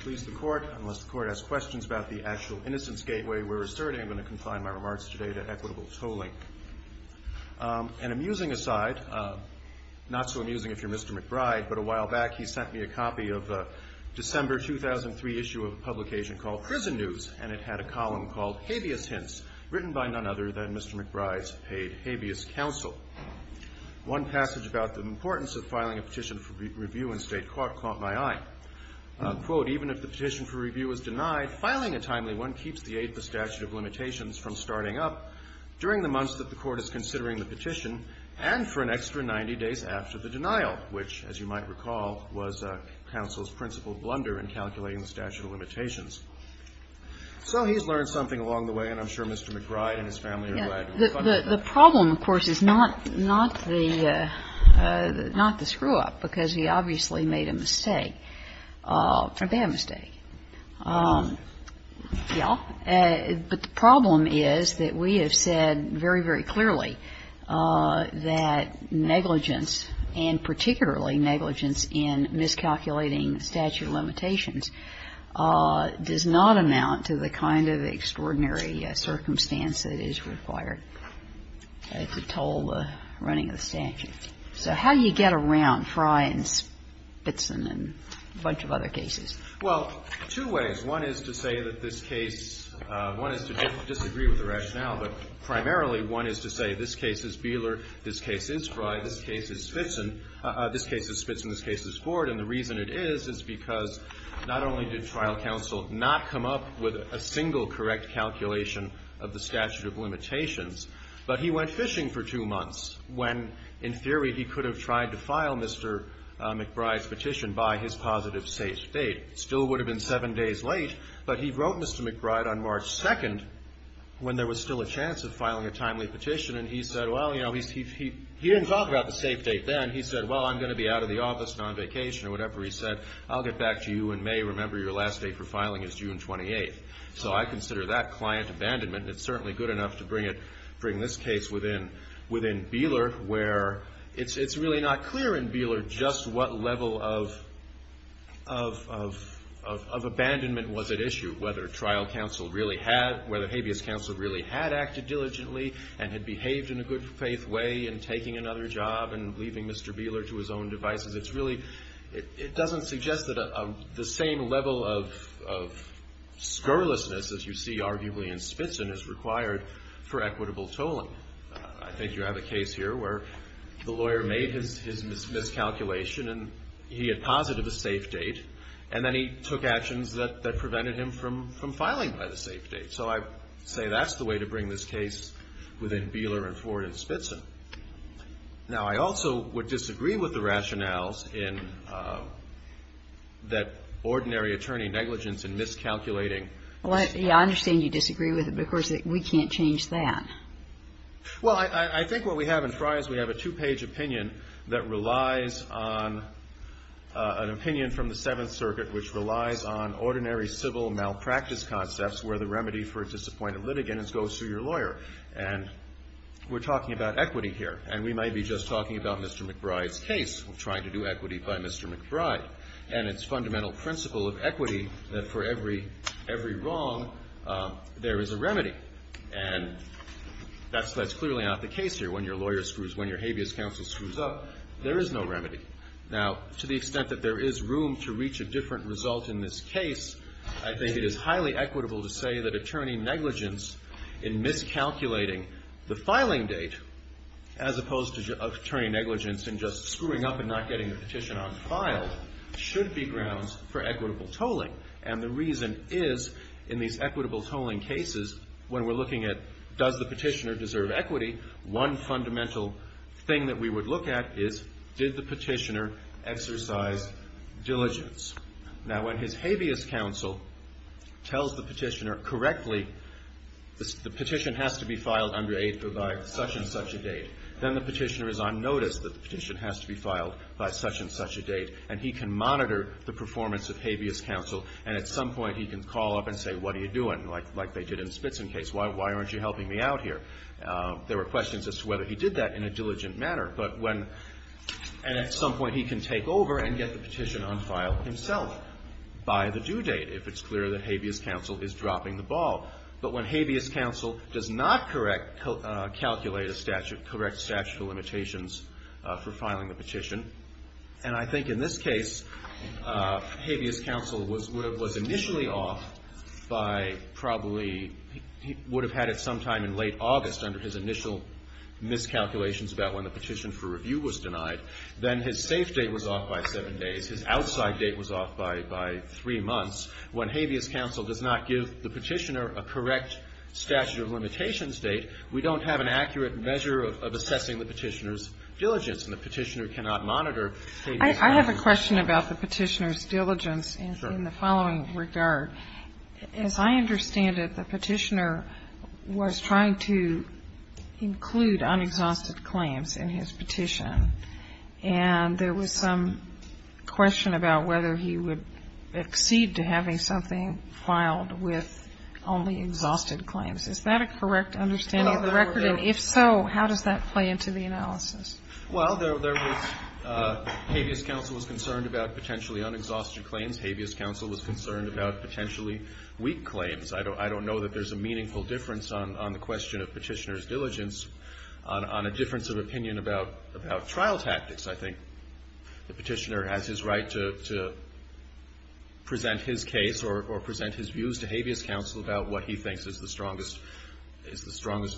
Please the court, unless the court has questions about the actual innocence gateway we're asserting, I'm going to confine my remarks today to equitable tolling. An amusing aside, not so amusing if you're Mr. McBride, but a while back he sent me a copy of a December 2003 issue of a publication called Prison News, and it had a column called Habeas Hints, written by none other than Mr. McBride's paid habeas counsel. One passage about the importance of filing a petition for review in state court caught my eye. Quote, even if the petition for review is denied, filing a timely one keeps the aid for statute of limitations from starting up during the months that the court is considering the petition, and for an extra 90 days after the denial, which, as you might recall, was counsel's principal blunder in calculating the statute of limitations. So he's learned something along the way, and I'm sure Mr. McBride and his family are glad to reflect on it. because he obviously made a mistake. A bad mistake. Yeah. But the problem is that we have said very, very clearly that negligence, and particularly negligence in miscalculating statute of limitations, does not amount to the kind of extraordinary circumstance that is required to toll the running of the statute. So how do you get around Frye and Spitzin and a bunch of other cases? Well, two ways. One is to say that this case, one is to disagree with the rationale, but primarily one is to say this case is Beeler, this case is Frye, this case is Spitzin, this case is Ford. And the reason it is is because not only did trial counsel not come up with a single correct calculation of the statute of limitations, but he went fishing for two months when, in theory, he could have tried to file Mr. McBride's petition by his positive safe date. Still would have been seven days late, but he wrote Mr. McBride on March 2nd when there was still a chance of filing a timely petition. And he said, well, you know, he didn't talk about the safe date then. He said, well, I'm going to be out of the office, not on vacation, or whatever. He said, I'll get back to you in May. Remember, your last day for filing is June 28th. So I consider that client abandonment. And it's certainly good enough to bring this case within Beeler, where it's really not clear in Beeler just what level of abandonment was at issue, whether trial counsel really had, whether habeas counsel really had acted diligently and had behaved in a good faith way in taking another job and leaving Mr. Beeler to his own devices. It's really, it doesn't suggest that the same level of scurrilousness, as you see arguably in Spitzin, is required for equitable tolling. I think you have a case here where the lawyer made his miscalculation, and he had posited a safe date. And then he took actions that prevented him from filing by the safe date. So I say that's the way to bring this case within Beeler and Ford and Spitzin. Now, I also would disagree with the rationales in that ordinary attorney negligence in miscalculating. Well, yeah, I understand you disagree with it, but of course, we can't change that. Well, I think what we have in Fries, we have a two-page opinion that relies on an opinion from the Seventh Circuit, which relies on ordinary civil malpractice concepts, where the remedy for a disappointed litigant is go sue your lawyer. And we're talking about equity here. And we might be just talking about Mr. McBride's case And it's fundamental principle of equity that for every wrong, there is a remedy. And that's clearly not the case here. When your lawyer screws, when your habeas counsel screws up, there is no remedy. Now, to the extent that there is room to reach a different result in this case, I think it is highly equitable to say that attorney negligence in miscalculating the filing date, as opposed to attorney negligence in just screwing up and not getting the petition on file, should be grounds for equitable tolling. And the reason is, in these equitable tolling cases, when we're looking at does the petitioner deserve equity, one fundamental thing that we would look at is did the petitioner exercise diligence? Now, when his habeas counsel tells the petitioner correctly, the petition has to be filed under a, by such and such a date, then the petitioner is on notice that the petition has to be filed by such and such a date. And he can monitor the performance of habeas counsel. And at some point, he can call up and say, what are you doing? Like they did in the Spitzen case. Why aren't you helping me out here? There were questions as to whether he did that in a diligent manner. But when, and at some point he can take over and get the petition on file himself by the due date, if it's clear that habeas counsel is dropping the ball. calculate a statute, correct statute of limitations for filing the petition. And I think in this case, habeas counsel was initially off by probably, he would have had it sometime in late August under his initial miscalculations about when the petition for review was denied. Then his safe date was off by seven days. His outside date was off by three months. When habeas counsel does not give the petitioner a correct statute of limitations date, we don't have an accurate measure of assessing the petitioner's diligence. And the petitioner cannot monitor habeas counsel. I have a question about the petitioner's diligence in the following regard. As I understand it, the petitioner was trying to include unexhausted claims in his petition. And there was some question about whether he would exceed to having something filed with only exhausted claims. Is that a correct understanding of the record? And if so, how does that play into the analysis? Well, there was, habeas counsel was concerned about potentially unexhausted claims. Habeas counsel was concerned about potentially weak claims. I don't know that there's a meaningful difference on the question of petitioner's diligence on a difference of opinion about trial tactics. I think the petitioner has his right to present his case or present his views to habeas counsel about what he thinks is the strongest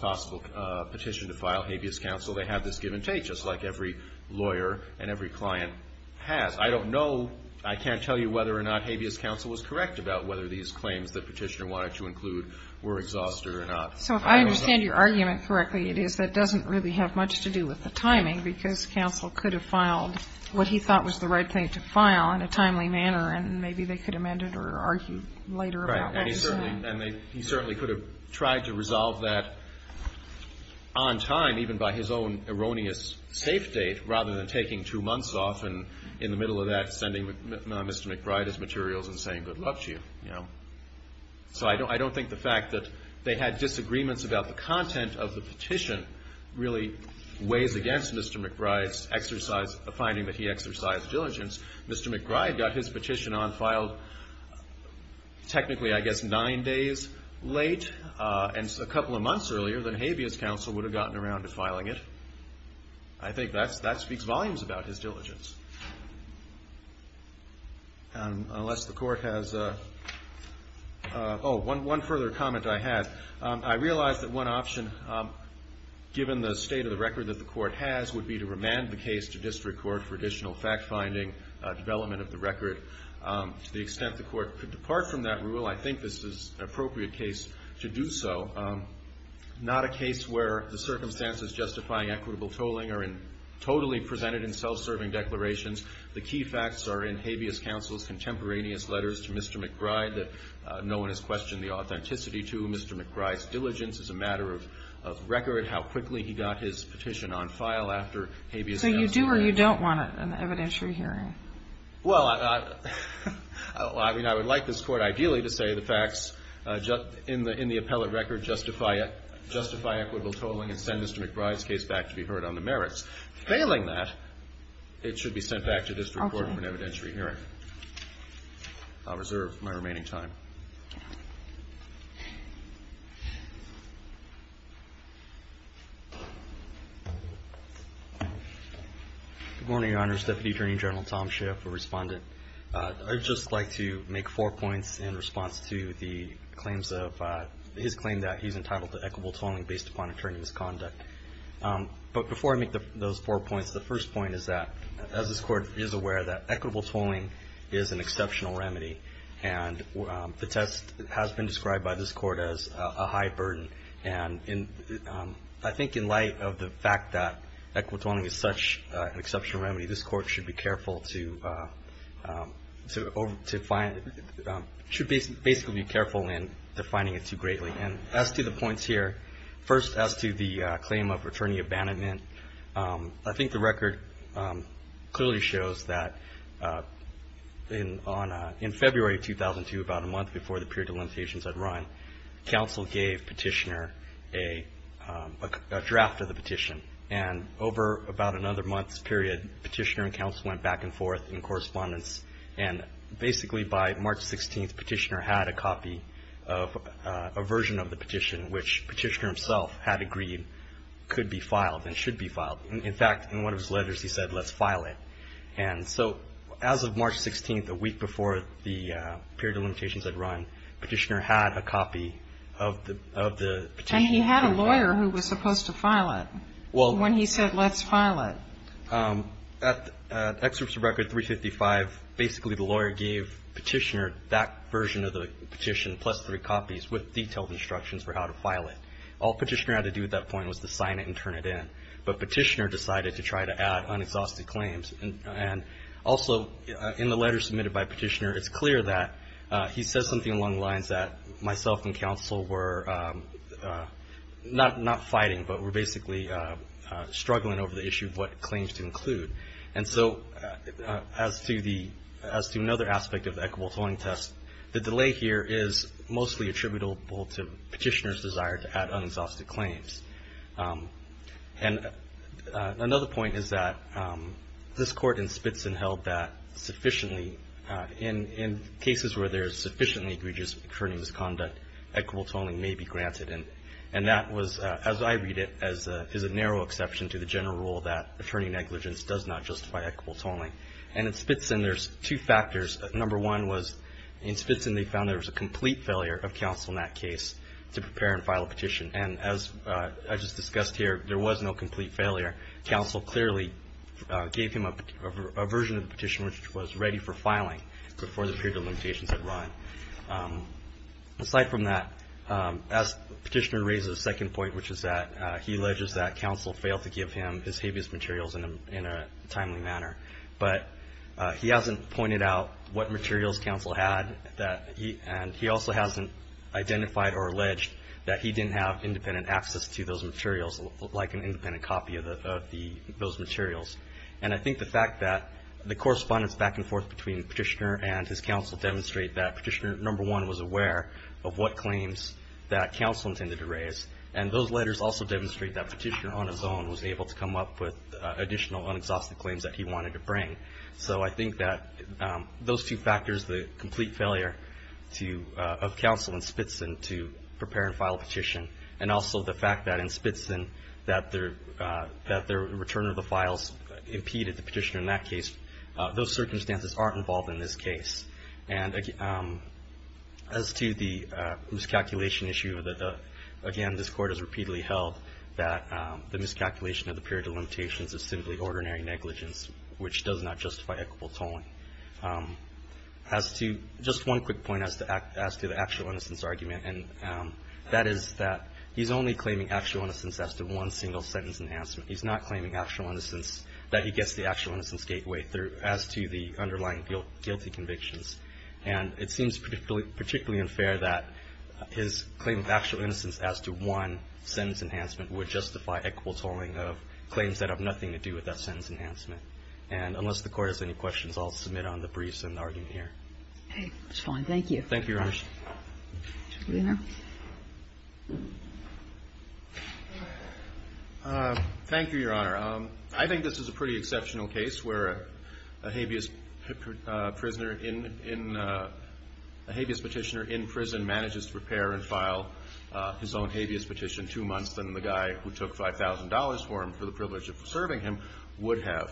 possible petition to file habeas counsel. They have this give and take, just like every lawyer and every client has. I don't know, I can't tell you whether or not habeas counsel was correct about whether these claims that petitioner wanted to include were exhausted or not. So if I understand your argument correctly, it is that doesn't really have much to do with the timing, because counsel could have filed what he thought was the right thing to file in a timely manner, and maybe they could amend it or argue later about what is. And he certainly could have tried to resolve that on time, even by his own erroneous safe date, rather than taking two months off and in the middle of that, sending Mr. McBride his materials and saying, good luck to you. So I don't think the fact that they had disagreements about the content of the petition really weighs against Mr. McBride's finding that he exercised diligence. Mr. McBride got his petition on file technically, I guess, nine days late, and a couple of months earlier than habeas counsel would have gotten around to filing it. I think that speaks volumes about his diligence. Unless the court has, oh, one further comment I had. I realize that one option, given the state of the record that the court has, would be to remand the case to district court for additional fact-finding development of the record. To the extent the court could depart from that rule, I think this is an appropriate case to do so. Not a case where the circumstances justifying equitable tolling are totally presented in self-serving declarations. The key facts are in habeas counsel's contemporaneous letters to Mr. McBride that no one has questioned the authenticity to. Mr. McBride's diligence as a matter of record, how quickly he got his petition on file after habeas counsel did. So you do or you don't want an evidentiary hearing? Well, I mean, I would like this court, ideally, to say the facts in the appellate record to justify equitable tolling and send Mr. McBride's case back to be heard on the merits. Failing that, it should be sent back to district court for an evidentiary hearing. I'll reserve my remaining time. Good morning, Your Honors. Deputy Attorney General Tom Schiff, a respondent. I'd just like to make four points in response to his claim that he's entitled to equitable tolling based upon attorney's conduct. But before I make those four points, the first point is that, as this court is aware, that equitable tolling is an exceptional remedy. And the test has been described by this court as a high burden. And I think in light of the fact that equitable tolling is such an exceptional remedy, this court should be careful to find, should basically be careful in defining it too greatly. And as to the points here, first, as to the claim of attorney abandonment, I think the record clearly shows that in February 2002, about a month before the period of limitations had run, counsel gave petitioner a draft of the petition. And over about another month's period, petitioner and counsel went back and forth in correspondence and basically by March 16th, petitioner had a copy of a version of the petition, which petitioner himself had agreed could be filed and should be filed. In fact, in one of his letters, he said, let's file it. And so as of March 16th, a week before the period of limitations had run, petitioner had a copy of the petition. And he had a lawyer who was supposed to file it when he said, let's file it. At excerpts of record 355, basically the lawyer gave petitioner that version of the petition plus three copies with detailed instructions for how to file it. All petitioner had to do at that point was to sign it and turn it in. But petitioner decided to try to add unexhausted claims. And also in the letter submitted by petitioner, it's clear that he says something along the lines that myself and counsel were not fighting, but we're basically struggling over the issue of what claims to include. And so as to another aspect of equitable tolling test, the delay here is mostly attributable to petitioner's desire to add unexhausted claims. And another point is that this court in Spitzin held that sufficiently in cases where there's sufficiently egregious attorney misconduct, equitable tolling may be granted. And that was, as I read it, as a narrow exception to the general rule that attorney negligence does not justify equitable tolling. And in Spitzin there's two factors. Number one was in Spitzin they found there was a complete failure of counsel in that case to prepare and file a petition. And as I just discussed here, there was no complete failure. Counsel clearly gave him a version of the petition which was ready for filing before the period of limitations had run. Aside from that, as petitioner raises a second point, which is that he alleges that counsel failed to give him his habeas materials in a timely manner. But he hasn't pointed out what materials counsel had and he also hasn't identified or alleged that he didn't have independent access to those materials like an independent copy of those materials. And I think the fact that the correspondence back and forth between petitioner and his counsel demonstrate that petitioner, number one, was aware of what claims that counsel intended to raise. And those letters also demonstrate that petitioner on his own was able to come up with additional unexhausted claims that he wanted to bring. So I think that those two factors, the complete failure of counsel in Spitzin to prepare and file a petition, and also the fact that in Spitzin that the return of the files impeded the petitioner in that case, those circumstances aren't involved in this case. And as to the miscalculation issue, again, this court has repeatedly held that the miscalculation of the period of limitations is simply ordinary negligence, which does not justify equitable tolling. As to just one quick point as to the actual innocence argument, and that is that he's only claiming actual innocence as to one single sentence enhancement. He's not claiming actual innocence, that he gets the actual innocence gateway as to the underlying guilty convictions. And it seems particularly unfair that his claim of actual innocence as to one sentence enhancement would justify equitable tolling of claims that have nothing to do with that sentence enhancement. And unless the court has any questions, I'll submit on the briefs and argument here. It's fine, thank you. Thank you, Your Honor. Thank you, Your Honor. I think this is a pretty exceptional case where a habeas petitioner in prison manages to prepare and file his own habeas petition two months than the guy who took $5,000 for him for the privilege of serving him would have.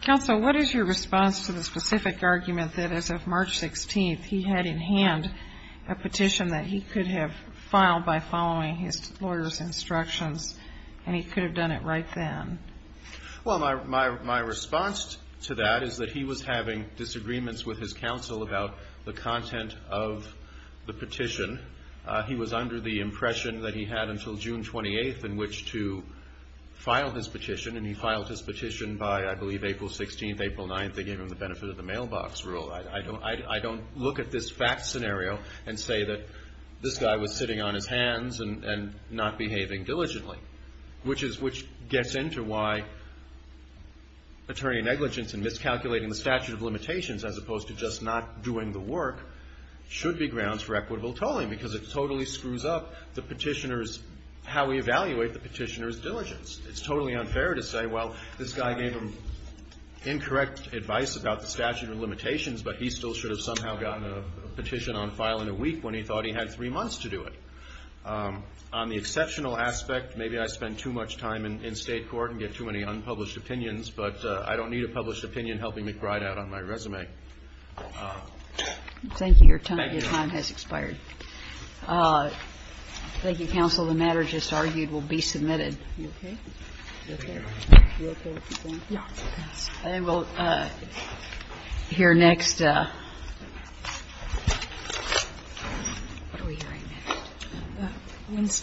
Counsel, what is your response to the specific argument that as of March 16th, he had in hand a petition that he could have filed by following his lawyer's instructions, and he could have done it right then? Well, my response to that is that he was having disagreements with his counsel about the content of the petition. He was under the impression that he had until June 28th in which to file this petition, and he filed his petition by, I believe, April 16th, April 9th. They gave him the benefit of the mailbox rule. I don't look at this fact scenario and say that this guy was sitting on his hands and not behaving diligently, which gets into why attorney negligence in miscalculating the statute of limitations as opposed to just not doing the work should be grounds for equitable tolling because it totally screws up the petitioner's, how we evaluate the petitioner's diligence. It's totally unfair to say, well, this guy gave him incorrect advice about the statute of limitations, but he still should have somehow gotten a petition on file in a week when he thought he had three months to do it. On the exceptional aspect, maybe I spend too much time in state court and get too many unpublished opinions, but I don't need a published opinion helping McBride out on my resume. Thank you. Your time has expired. Thank you, counsel. The matter just argued will be submitted. You okay? You okay? You okay with the thing? Yeah. I will hear next. What are we hearing next? Wednesday.